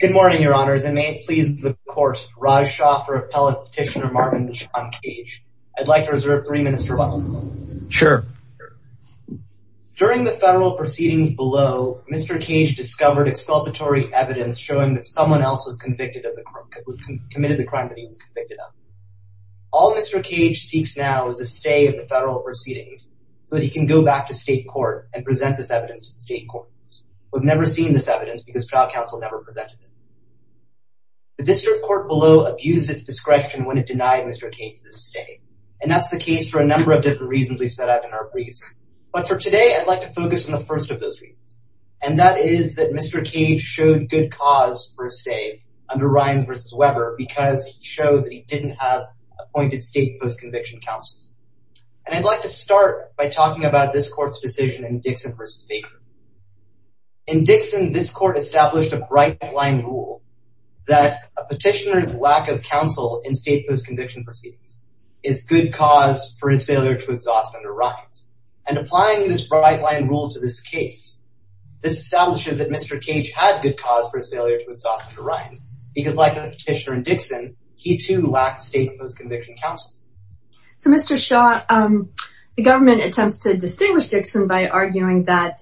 Good morning, your honors, and may it please the court, Raj Shah for Appellate Petitioner Martin John Cage. I'd like to reserve three minutes to rebuttal. Sure. During the federal proceedings below, Mr. Cage discovered exculpatory evidence showing that someone else was convicted of the crime, committed the crime that he was convicted of. All Mr. Cage seeks now is a stay in the federal proceedings so that he can go back to state court and present this evidence to the state court. We've never seen this evidence because trial counsel never presented it. The district court below abused its discretion when it denied Mr. Cage this stay, and that's the case for a number of different reasons we've set out in our briefs. But for today, I'd like to focus on the first of those reasons, and that is that Mr. Cage showed good cause for a stay under Ryan v. Weber because he showed that he didn't have appointed state post-conviction counsel. And I'd like to start by talking about this court's decision in Dixon v. Baker. In Dixon, this court established a bright line rule that a petitioner's lack of counsel in state post-conviction proceedings is good cause for his failure to exhaust under Ryan's. And applying this bright line rule to this case, this establishes that Mr. Cage had good cause for his failure to exhaust under Ryan's because like the petitioner in Dixon, he too lacked state post-conviction counsel. So Mr. Shaw, the government attempts to distinguish Dixon by arguing that,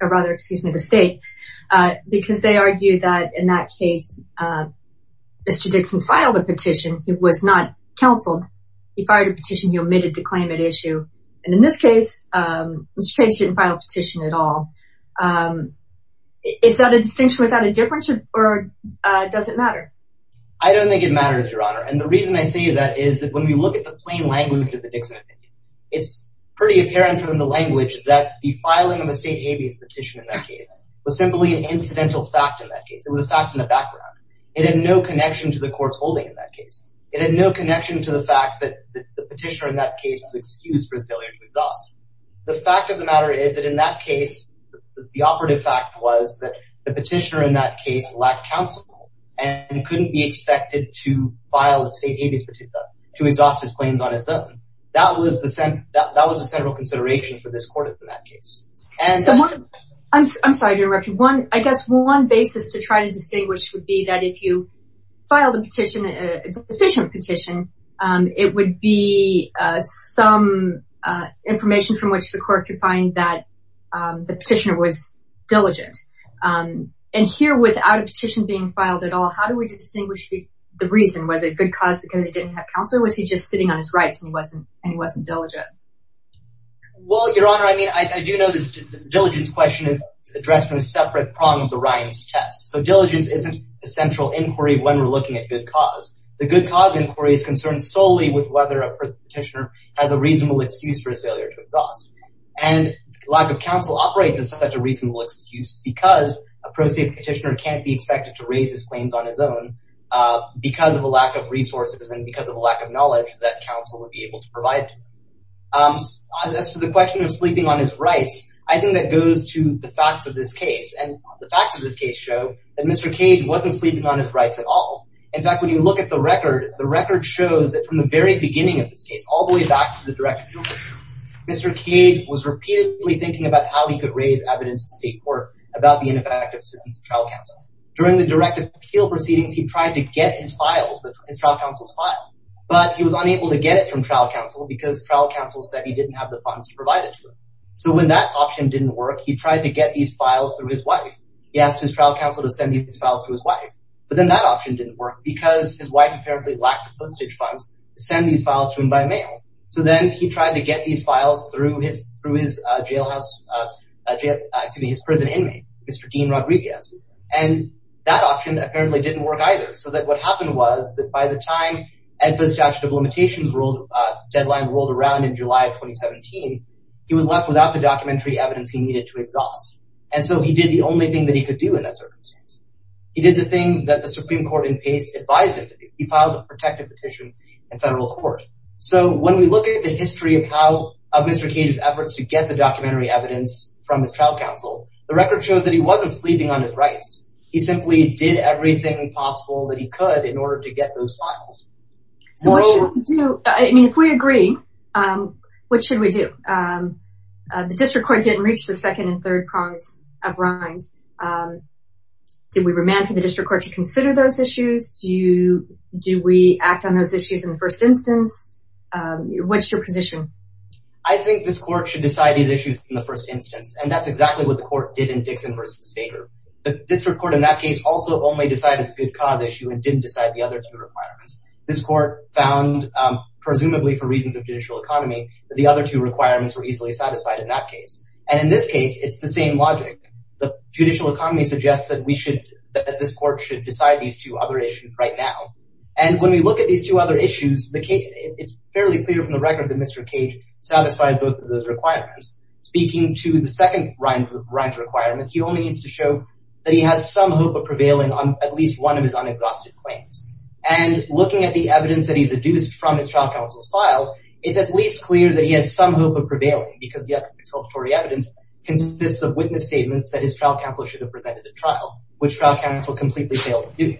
or rather, excuse me, the state, because they argue that in that case, Mr. Dixon filed a petition. He was not counseled. He filed a petition. He omitted the claim at issue. And in this case, Mr. Cage didn't file a petition at all. Is that a distinction without a difference or does it matter? I don't think it matters, Your Honor. And the reason I say that is that when we look at the plain language of the Dixon opinion, it's pretty apparent from the language that the state habeas petition in that case was simply an incidental fact in that case. It was a fact in the background. It had no connection to the court's holding in that case. It had no connection to the fact that the petitioner in that case was excused for his failure to exhaust. The fact of the matter is that in that case, the operative fact was that the petitioner in that case lacked counsel and couldn't be expected to file a state habeas petition to exhaust his claims on his own. That was the central consideration for this court in that case. I'm sorry to interrupt you. I guess one basis to try to distinguish would be that if you filed a petition, a deficient petition, it would be some information from which the court could find that the petitioner was diligent. And here, without a petition being filed at all, how do we distinguish the reason? Was it good cause because he didn't have counsel or was he just sitting on his rights and he wasn't diligent? Well, your honor, I mean, I do know that the diligence question is addressed in a separate prong of the Ryan's test. So diligence isn't a central inquiry when we're looking at good cause. The good cause inquiry is concerned solely with whether a petitioner has a reasonable excuse for his failure to exhaust. And lack of counsel operates as such a reasonable excuse because a pro se petitioner can't be expected to raise his claims on his own because of a lack of resources and because of a lack of knowledge that counsel would be able to provide. As to the question of sleeping on his rights, I think that goes to the facts of this case. And the facts of this case show that Mr. Cage wasn't sleeping on his rights at all. In fact, when you look at the record, the record shows that from the very beginning of this case, all the way back to the direct appeal, Mr. Cage was repeatedly thinking about how he could raise evidence in state court about the ineffectiveness of trial counsel. During the direct appeal proceedings, he tried to get his trial counsel's file, but he was unable to get it from trial counsel because trial counsel said he didn't have the funds provided to him. So when that option didn't work, he tried to get these files through his wife. He asked his trial counsel to send these files to his wife, but then that option didn't work because his wife apparently lacked postage funds to send these files to him by mail. So then he tried to get these files through his prison inmate, Mr. Dean Rodriguez, and that option apparently didn't work either. So what happened was that by the time the statute of limitations deadline rolled around in July of 2017, he was left without the documentary evidence he needed to exhaust. And so he did the only thing that he could do in that circumstance. He did the thing that the Supreme Court in pace advised him to do. He filed a protective petition in federal court. So when we look at the history of Mr. Cage's efforts to get the documentary evidence from his trial counsel, the record shows that he wasn't sleeping on his rights. He simply did everything possible that he could in order to get those files. So what should we do? I mean, if we agree, what should we do? The district court didn't reach the second and third crimes of Rimes. Did we remand for the district court to consider those issues? Do we act on those issues in the first instance? What's your position? I think this court should decide these issues in the first instance. And that's exactly what the court did in Dixon versus Baker. The district court in that case also only decided the good cause issue and didn't decide the other two requirements. This court found, presumably for reasons of judicial economy, that the other two requirements were easily satisfied in that case. And in this case, it's the same logic. The judicial economy suggests that we should, that this court should decide these two other issues right now. And when we look at these two issues, it's fairly clear from the record that Mr. Cage satisfied both of those requirements. Speaking to the second Rimes requirement, he only needs to show that he has some hope of prevailing on at least one of his unexhausted claims. And looking at the evidence that he's deduced from his trial counsel's file, it's at least clear that he has some hope of prevailing because the other observatory evidence consists of witness statements that his trial counsel should have presented at trial, which trial counsel completely failed to do.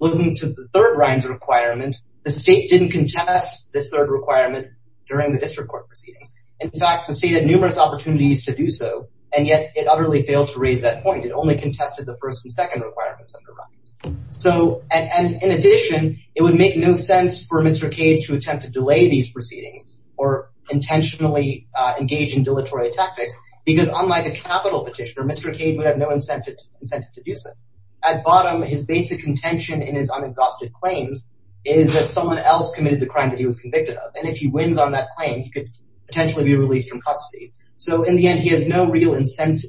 Looking to the third Rimes requirement, the state didn't contest this third requirement during the district court proceedings. In fact, the state had numerous opportunities to do so, and yet it utterly failed to raise that point. It only contested the first and second requirements of the Rimes. So, and in addition, it would make no sense for Mr. Cage to attempt to delay these proceedings or intentionally engage in dilatory tactics because unlike the capital petitioner, Mr. Cage would have no incentive to do so. At bottom, his basic contention in his unexhausted claims is that someone else committed the crime that he was convicted of. And if he wins on that claim, he could potentially be released from custody. So in the end, he has no real incentive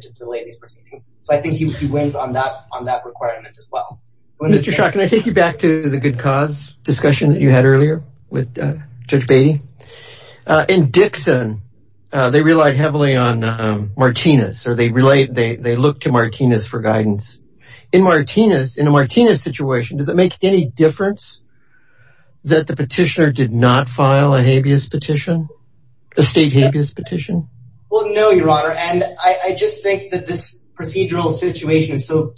to delay these proceedings. So I think he wins on that requirement as well. Mr. Schott, can I take you back to the good cause discussion that you had earlier with Judge Beatty? In Dixon, they relied heavily on Martinez, or they look to Martinez for guidance. In a Martinez situation, does it make any difference that the petitioner did not file a habeas petition, a state habeas petition? Well, no, your honor. And I just think that this procedural situation is so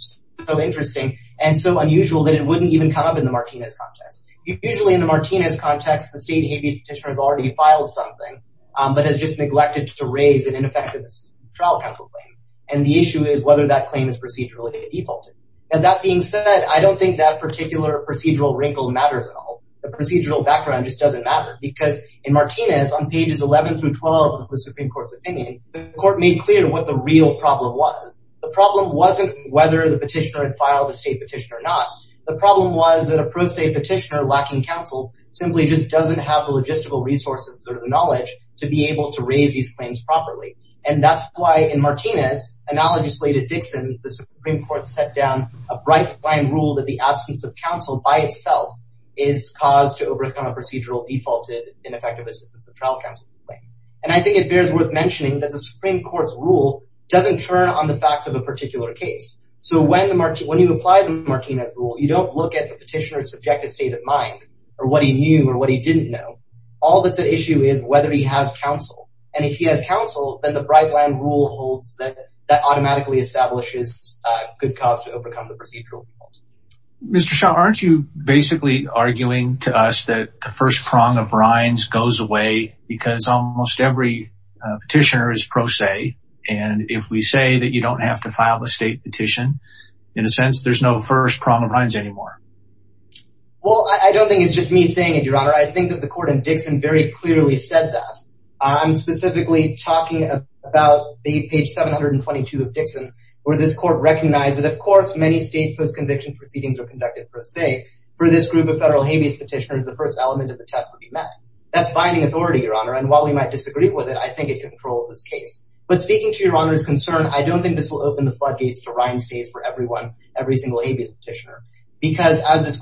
interesting and so unusual that it wouldn't even come up in the Martinez context. Usually in the Martinez context, the state habeas petitioner has already filed something, but has just neglected to raise ineffective trial counsel claim. And the issue is whether that claim is procedurally defaulted. And that being said, I don't think that particular procedural wrinkle matters at all. The procedural background just doesn't matter because in Martinez on pages 11 through 12 of the Supreme Court's opinion, the court made clear what the real problem was. The problem wasn't whether the petitioner had filed a state petition or not. The problem was that a pro-state petitioner lacking counsel simply just doesn't have the logistical resources or the knowledge to be able to raise these claims properly. And that's why in Martinez, analogously to Dixon, the Supreme Court set down a bright line rule that the absence of counsel by itself is cause to overcome a procedural defaulted ineffective assistance of trial counsel claim. And I think it bears worth mentioning that the Supreme Court's rule doesn't turn on the facts of a particular case. So when you apply the Martinez rule, you don't look at the petitioner's subjective state of mind or what he knew or what he didn't know. All that's an issue is whether he has counsel. And if he has counsel, then the bright line rule holds that automatically establishes a good cause to overcome the procedural default. Mr. Shah, aren't you basically arguing to us that the first prong of rinds goes away because almost every petitioner is pro se? And if we say that you don't have to file a state petition, in a sense, there's no first prong of rinds anymore. Well, I don't think it's just me saying it, Your Honor. I think that the court in Dixon very clearly said that. I'm specifically talking about the page 722 of Dixon, where this court recognized that, of course, many state post-conviction proceedings are conducted pro se. For this group of federal habeas petitioners, the first element of the test would be met. That's binding authority, Your Honor. And while we might disagree with it, I think it controls this case. But speaking to Your Honor's concern, I don't think this will open the floodgates to rind stays for everyone, every single habeas petitioner. Because as this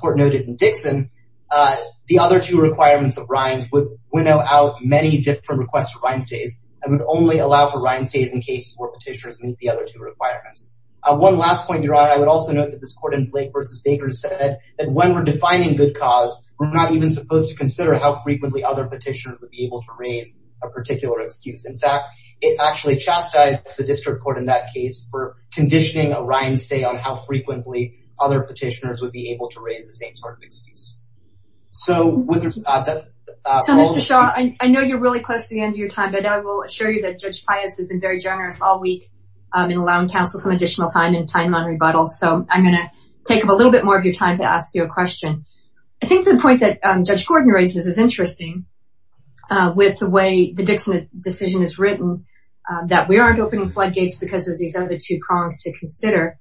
requirement of rinds would winnow out many different requests for rind stays and would only allow for rind stays in cases where petitioners meet the other two requirements. One last point, Your Honor, I would also note that this court in Blake v. Baker said that when we're defining good cause, we're not even supposed to consider how frequently other petitioners would be able to raise a particular excuse. In fact, it actually chastised the district court in that case for conditioning a rind stay on how frequently other petitioners would be able to raise the same sort of excuse. So with that... So Mr. Shah, I know you're really close to the end of your time, but I will assure you that Judge Pius has been very generous all week in allowing counsel some additional time and time on rebuttal. So I'm going to take a little bit more of your time to ask you a question. I think the point that Judge Gordon raises is interesting with the way the Dixon decision is written, that we aren't opening floodgates because of these other two prongs to consider.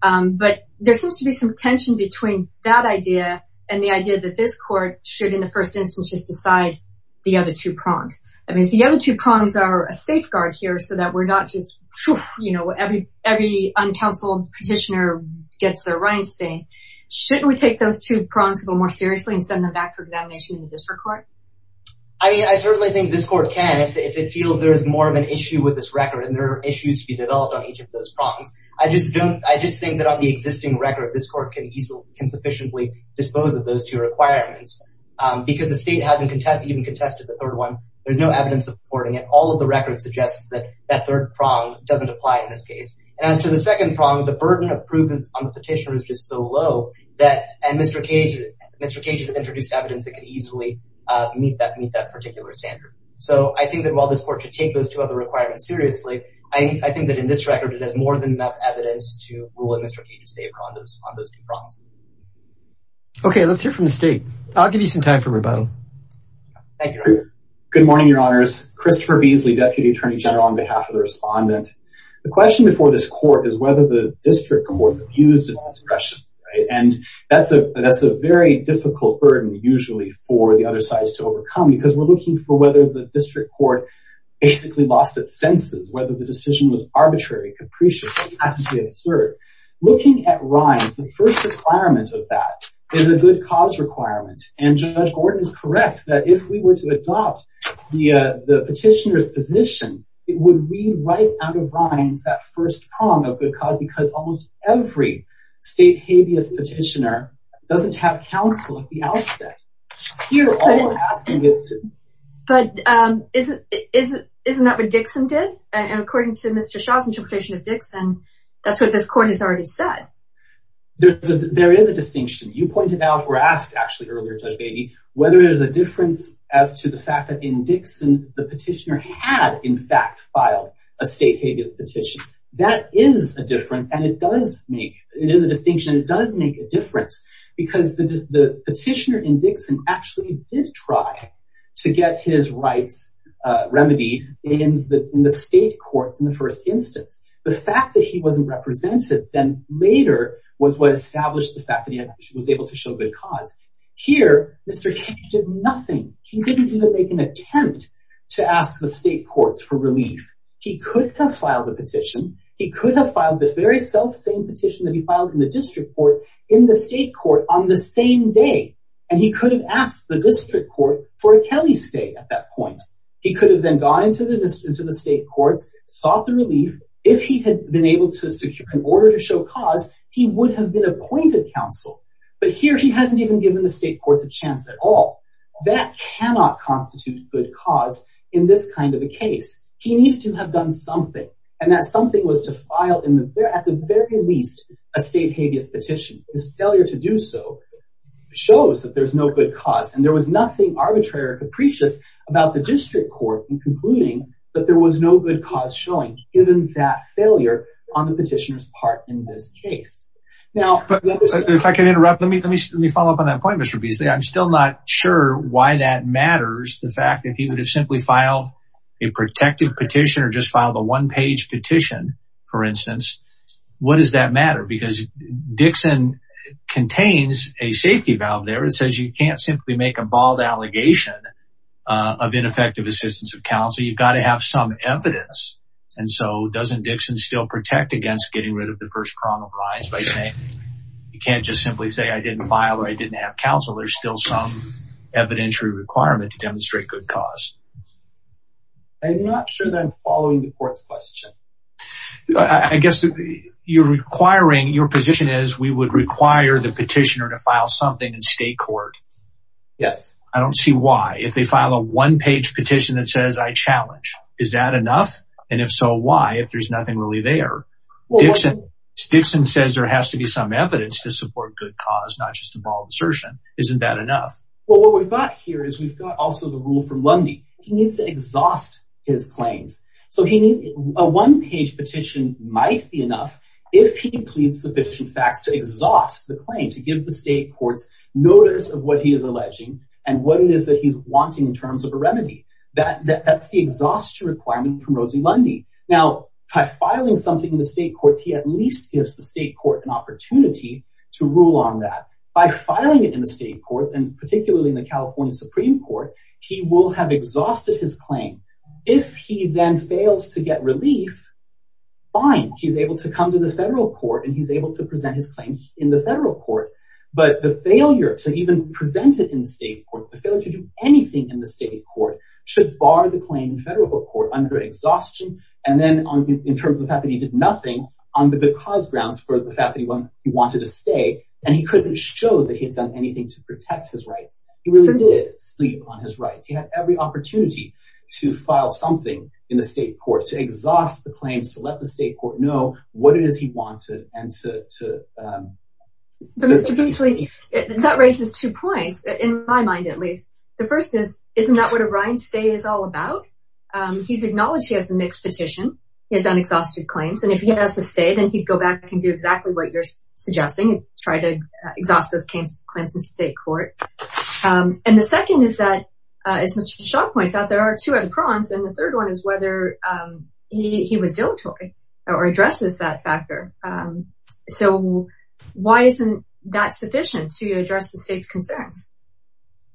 But there seems to be some tension between that idea and the idea that this court should, in the first instance, just decide the other two prongs. I mean, if the other two prongs are a safeguard here so that we're not just, you know, every uncounseled petitioner gets their rind stay, shouldn't we take those two prongs a little more seriously and send them back for examination in the district court? I mean, I certainly think this court can if it feels there is more of an issue with this record and there are issues to be developed on each of those prongs. I just don't, I just think that on the existing record, this court can easily, can sufficiently dispose of those two requirements because the state hasn't even contested the third one. There's no evidence supporting it. All of the record suggests that that third prong doesn't apply in this case. And as to the second prong, the burden of proof on the petitioner is just so low that, and Mr. Cage, Mr. Cage has introduced evidence that could easily meet that particular standard. So I think that while this court should take those two other requirements seriously, I think that in this record, it has more than enough evidence to rule in Mr. Cage's favor on those, on those two prongs. Okay, let's hear from the state. I'll give you some time for rebuttal. Thank you. Good morning, your honors. Christopher Beasley, deputy attorney general on behalf of the respondent. The question before this court is whether the district court used its discretion, right? And that's a, that's a very difficult burden usually for the other sides to overcome because we're looking for whether the district court basically lost its senses, whether the decision was arbitrary, capricious, absurd. Looking at Ryan's, the first requirement of that is a good cause requirement. And Judge Gordon is correct that if we were to adopt the petitioner's position, it would read right out of Ryan's, that first prong of good cause, because almost every state habeas petitioner doesn't have counsel at the outset. But isn't, isn't, isn't that what Dixon did? And according to Mr. Shaw's interpretation of Dixon, that's what this court has already said. There is a distinction. You pointed out, or asked actually earlier, Judge Beatty, whether there's a difference as to the fact that in Dixon, the petitioner had in fact filed a state habeas petition. That is a difference. And it does make, it is a distinction. It does make a difference because the petitioner in Dixon actually did try to get his rights remedy in the state courts in the first instance. The fact that he wasn't represented then later was what established the fact that he was able to show good cause. Here, Mr. King did nothing. He could have filed a petition. He could have filed the very selfsame petition that he filed in the district court in the state court on the same day. And he could have asked the district court for a Kelly stay at that point. He could have then gone into the state courts, sought the relief. If he had been able to secure an order to show cause, he would have been appointed counsel. But here he hasn't even given the state courts a chance at all. That cannot constitute good cause in this kind of a case. He needed to have done something. And that something was to file at the very least a state habeas petition. His failure to do so shows that there's no good cause. And there was nothing arbitrary or capricious about the district court in concluding that there was no good cause showing given that failure on the petitioner's part in this case. Now, if I can interrupt, let me follow up on that point, Mr. Beasley. I'm still not sure why that matters. The fact that he would have simply filed a protective petition or just filed a one page petition, for instance. What does that matter? Because Dixon contains a safety valve there. It says you can't simply make a bald allegation of ineffective assistance of counsel. You've got to have some evidence. And so doesn't Dixon still protect against getting rid of the first prong of lines by saying, you can't just simply say I didn't file or I didn't have counsel. There's still some evidentiary requirement to demonstrate good cause. I'm not sure that I'm following the court's question. I guess you're requiring, your position is we would require the petitioner to file something in state court. Yes. I don't see why. If they file a one page petition that says I challenge, is that enough? And if so, why, if there's nothing really there? Dixon says there has to be some enough. Well, what we've got here is we've got also the rule from Lundy. He needs to exhaust his claims. So he needs a one page petition might be enough. If he can plead sufficient facts to exhaust the claim to give the state courts notice of what he is alleging and what it is that he's wanting in terms of a remedy that that's the exhaustion requirement from Rosie Lundy. Now by filing something in the state courts, he at least gives the state court an opportunity to rule on that by filing it in the state courts. And particularly in the California Supreme court, he will have exhausted his claim. If he then fails to get relief, fine. He's able to come to the federal court and he's able to present his claims in the federal court, but the failure to even present it in state court, the failure to do anything in the state court should bar the claim federal court under exhaustion. And then in terms of the fact that did nothing on the good cause grounds for the fact that he wanted to stay and he couldn't show that he had done anything to protect his rights. He really did sleep on his rights. He had every opportunity to file something in the state court, to exhaust the claims, to let the state court know what it is he wanted. And to, um, that raises two points in my mind, at least the first is, isn't that what a Ryan stay is all about? Um, he's acknowledged. He has a mixed petition. He has unexhausted claims. And if he has to stay, then he'd go back and do exactly what you're suggesting, try to exhaust those claims in state court. Um, and the second is that, uh, as Mr. Shaw points out, there are two other prongs. And the third one is whether, um, he, he was dilatory or addresses that factor. Um, so why isn't that sufficient to address the state's concerns?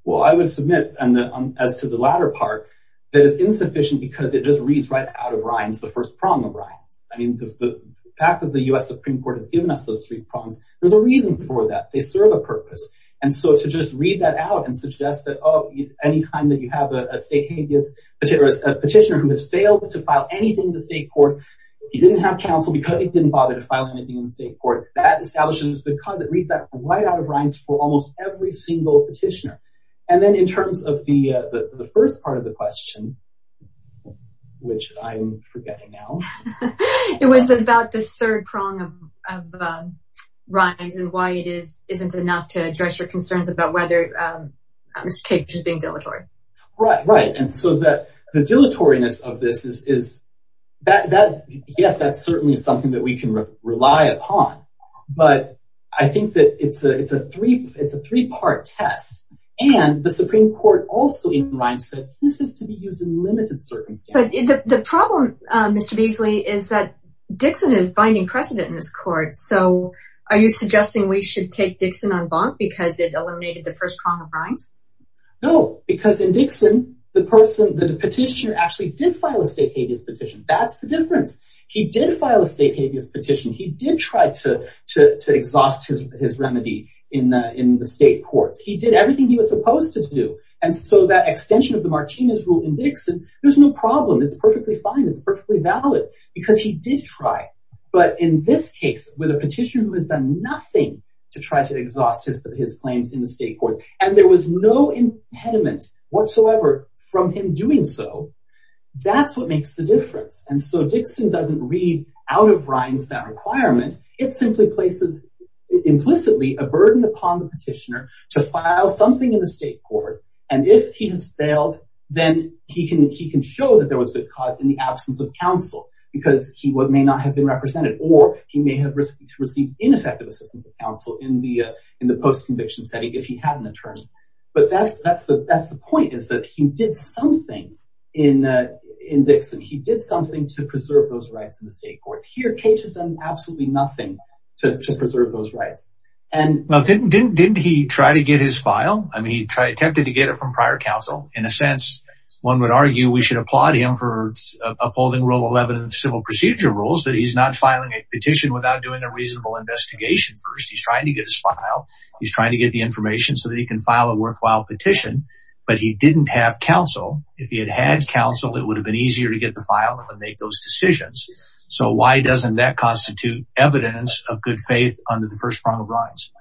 Well, I would submit as to the latter part that it's insufficient because it just reads right out of Ryan's the first prong of Ryan's. I mean, the fact that the U S Supreme court has given us those three prongs, there's a reason for that. They serve a purpose. And so to just read that out and suggest that, Oh, anytime that you have a state habeas petitioner who has failed to file anything in the state court, he didn't have counsel because he didn't bother to file anything in the state court that establishes because it reads that right out of Ryan's for almost every petitioner. And then in terms of the, uh, the, the first part of the question, which I'm forgetting now, it was about the third prong of, of, um, Ryan's and why it is, isn't enough to address your concerns about whether, um, I'm just being dilatory, right? Right. And so that the dilatoriness of this is, is that, that, yes, that's certainly something that we can rely upon, but I think that it's a, it's a three, it's a three-part test and the Supreme court also in Ryan said, this is to be used in limited circumstances. The problem, uh, Mr. Beasley is that Dixon is binding precedent in this court. So are you suggesting we should take Dixon on bond because it eliminated the first prong of Ryan's? No, because in Dixon, the person that the petitioner actually did file a state habeas petition. That's the difference. He did file a state habeas petition. He did try to, to, to exhaust his, his remedy in the, in the state courts. He did everything he was supposed to do. And so that extension of the Martinez rule in Dixon, there's no problem. It's perfectly fine. It's perfectly valid because he did try. But in this case, with a petitioner who has done nothing to try to exhaust his, his claims in the state courts, and there was no impediment whatsoever from him doing so, that's what makes the difference. And so Dixon doesn't read out of Ryan's that requirement. It simply places implicitly a burden upon the petitioner to file something in the state court. And if he has failed, then he can, he can show that there was good cause in the absence of counsel because he may not have been represented or he may have received ineffective assistance of counsel in the, uh, in the post conviction setting if he had an attorney. But that's, that's the, that's the point is that he did something in, uh, in Dixon. He did something to preserve those rights in the state courts here. Cage has done absolutely nothing to preserve those rights. And well, didn't, didn't, didn't he try to get his file? I mean, he attempted to get it from prior counsel. In a sense, one would argue we should applaud him for upholding rule 11 civil procedure rules that he's not filing a petition without doing a reasonable investigation. First, he's trying to get his file. He's trying to get the information so that he can file a worthwhile petition, but he didn't have counsel. If he had had counsel, it would have been easier to get the file and make those decisions. So why doesn't that constitute evidence of good faith under the first front of lines?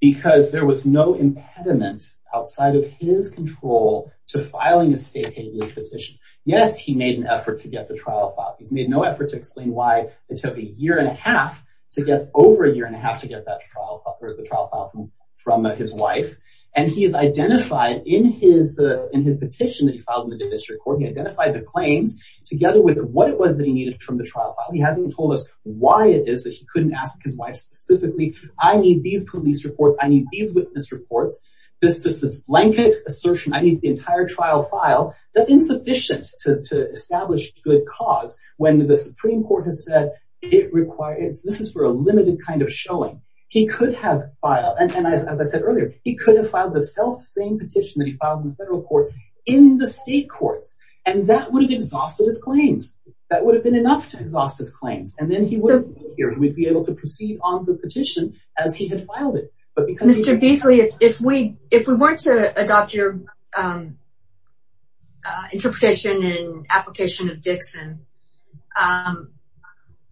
Because there was no impediment outside of his control to filing a state petition. Yes, he made an effort to get the trial file. He's made no effort to explain why it took a year and a half to get over a year and a half to get that trial or the trial file from, from his wife. And he has identified in his, uh, in his petition that he filed in the district court. He identified the claims together with what it was that he needed from the trial file. He hasn't told us why it is that he couldn't ask his wife specifically. I need these police reports. I need these witness reports, this blanket assertion. I need the entire trial file. That's insufficient to establish good cause when the Supreme court has said it requires, this is for a limited kind of showing he could have filed. And as I said earlier, he could have filed the same petition that he filed in the federal court in the state courts, and that would have exhausted his claims. That would have been enough to exhaust his claims. And then he would be able to proceed on the petition as he had filed it. But because Mr. Beasley, if we, if we weren't to adopt your, um, uh, interpretation and application of Dixon, um,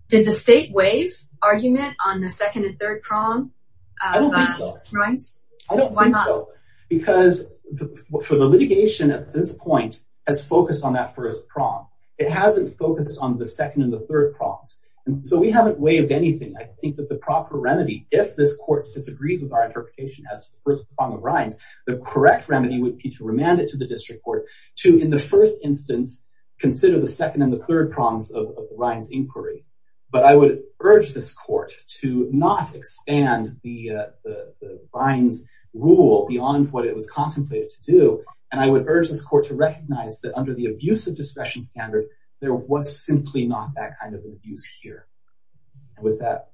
did the state wave argument on the second and third prong? I don't think so because for the litigation at this point has focused on that first prong. It hasn't focused on the second and the third problems. And so we haven't waived anything. I think that the proper remedy, if this court disagrees with our interpretation as the first prong of Ryan's, the correct remedy would be to remand it to the district court to, in the first instance, consider the second and the third problems of Ryan's inquiry. But I would urge this court to not expand the, uh, the Ryan's rule beyond what it was contemplated to do. And I would urge this court to recognize that under the abuse of discretion standard, there was simply not that kind of abuse here. And with that.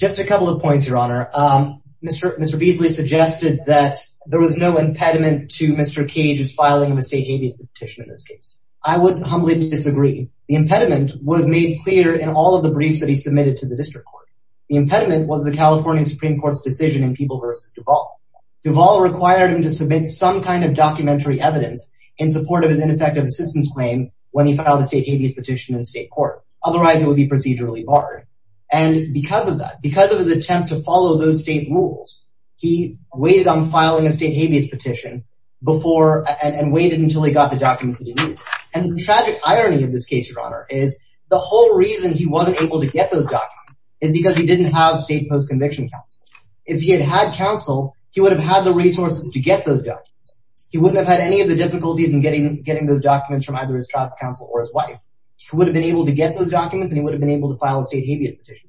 Just a couple of points, Your Honor. Um, Mr. Beasley suggested that there was no impediment to Mr. Cage's filing of a state habeas petition in this case. I would humbly disagree. The impediment was made clear in all of the briefs that he submitted to the district court. The impediment was the California Supreme Court's decision in People v. Duval. Duval required him to submit some kind of documentary evidence in support of his ineffective assistance claim when he filed a state habeas petition in state court. Otherwise it would be procedurally barred. And because of that, because of his attempt to follow those state rules, he waited on filing a state habeas petition before and waited until he got the documents that he needed. And the tragic irony of this case, Your Honor, is the whole reason he wasn't able to get those documents is because he didn't have state post-conviction counsel. If he had had counsel, he would have had the resources to get those documents. He wouldn't have had any of the difficulties in getting those documents from either his trial counsel or his wife. He would have been able to get those documents and he would have been able to file a state habeas petition.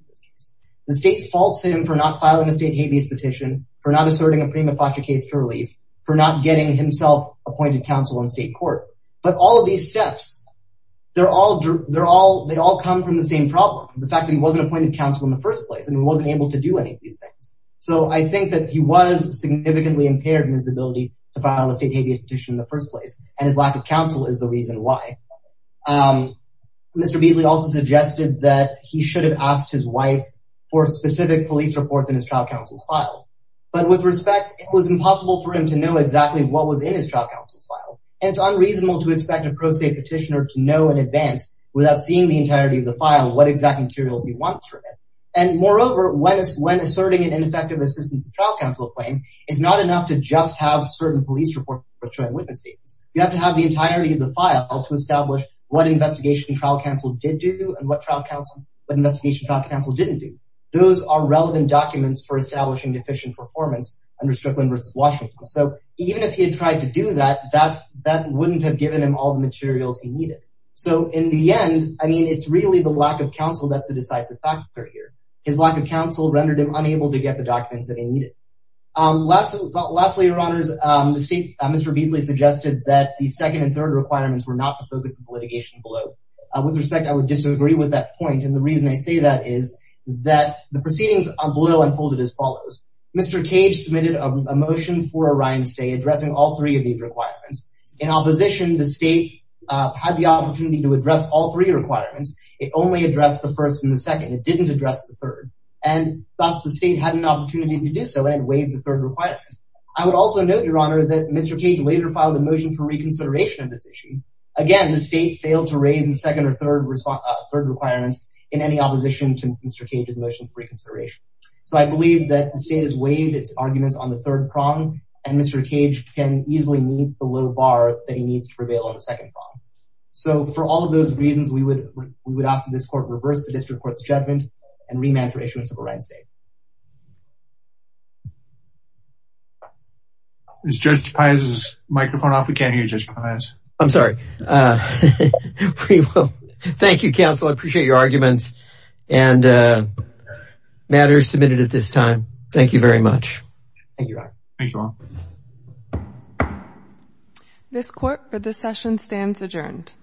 The state faults him for not filing a state habeas petition, for not asserting a prima facie case to relief, for not getting himself appointed counsel in state court. But all of these steps, they all come from the same problem, the fact that he wasn't appointed counsel in the first place and wasn't able to do any of these things. So I think that he was significantly impaired in his ability to file a state habeas petition in the first place. And his lack of counsel is the reason why. Mr. Beasley also suggested that he should have asked his wife for specific police reports in his trial counsel's file. But with respect, it was impossible for him to know exactly what was in his trial counsel's file. And it's unreasonable to expect a pro se petitioner to know in advance without seeing the entirety of the file, what exact materials he wants from it. And moreover, when asserting an ineffective assistance to trial counsel claim, it's not enough to just have certain police reports showing witness statements. You have to have the entirety of the file to establish what investigation trial counsel did do and what investigation trial counsel didn't do. Those are relevant documents for establishing efficient performance under Strickland v. Washington. So even if he had tried to do that, that wouldn't have given him all the materials he needed. So in the end, I mean, it's really the lack of counsel that's the decisive factor here. His lack of counsel rendered him unable to get the documents that he needed. Lastly, your honors, the state, Mr. Beasley suggested that the second and third requirements were not the focus of litigation below. With respect, I would disagree with that point. And the reason I say that is that the proceedings below unfolded as follows. Mr. Cage submitted a motion for a Ryan stay addressing all three of these requirements. In opposition, the state had the opportunity to address all three requirements. It only addressed the first and the second. It didn't address the third. And thus, the state had an opportunity to do so and waive the third requirement. I would also note, your honor, that Mr. Cage later filed a motion for reconsideration of this issue. Again, the state failed to raise the second or third requirements in any opposition to Mr. Cage's motion for reconsideration. So I believe that the state has waived its arguments on the third prong and Mr. Cage can easily meet the low bar that he needs to prevail on the second prong. So for all of those reasons, we would ask that this court reverse the district court's judgment and remand for issuance of a Ryan stay. Is Judge Paz's microphone off? We can't hear Judge Paz. I'm sorry. Thank you, counsel. I appreciate your arguments and matters submitted at this time. Thank you very much. Thank you. This court for this session stands adjourned.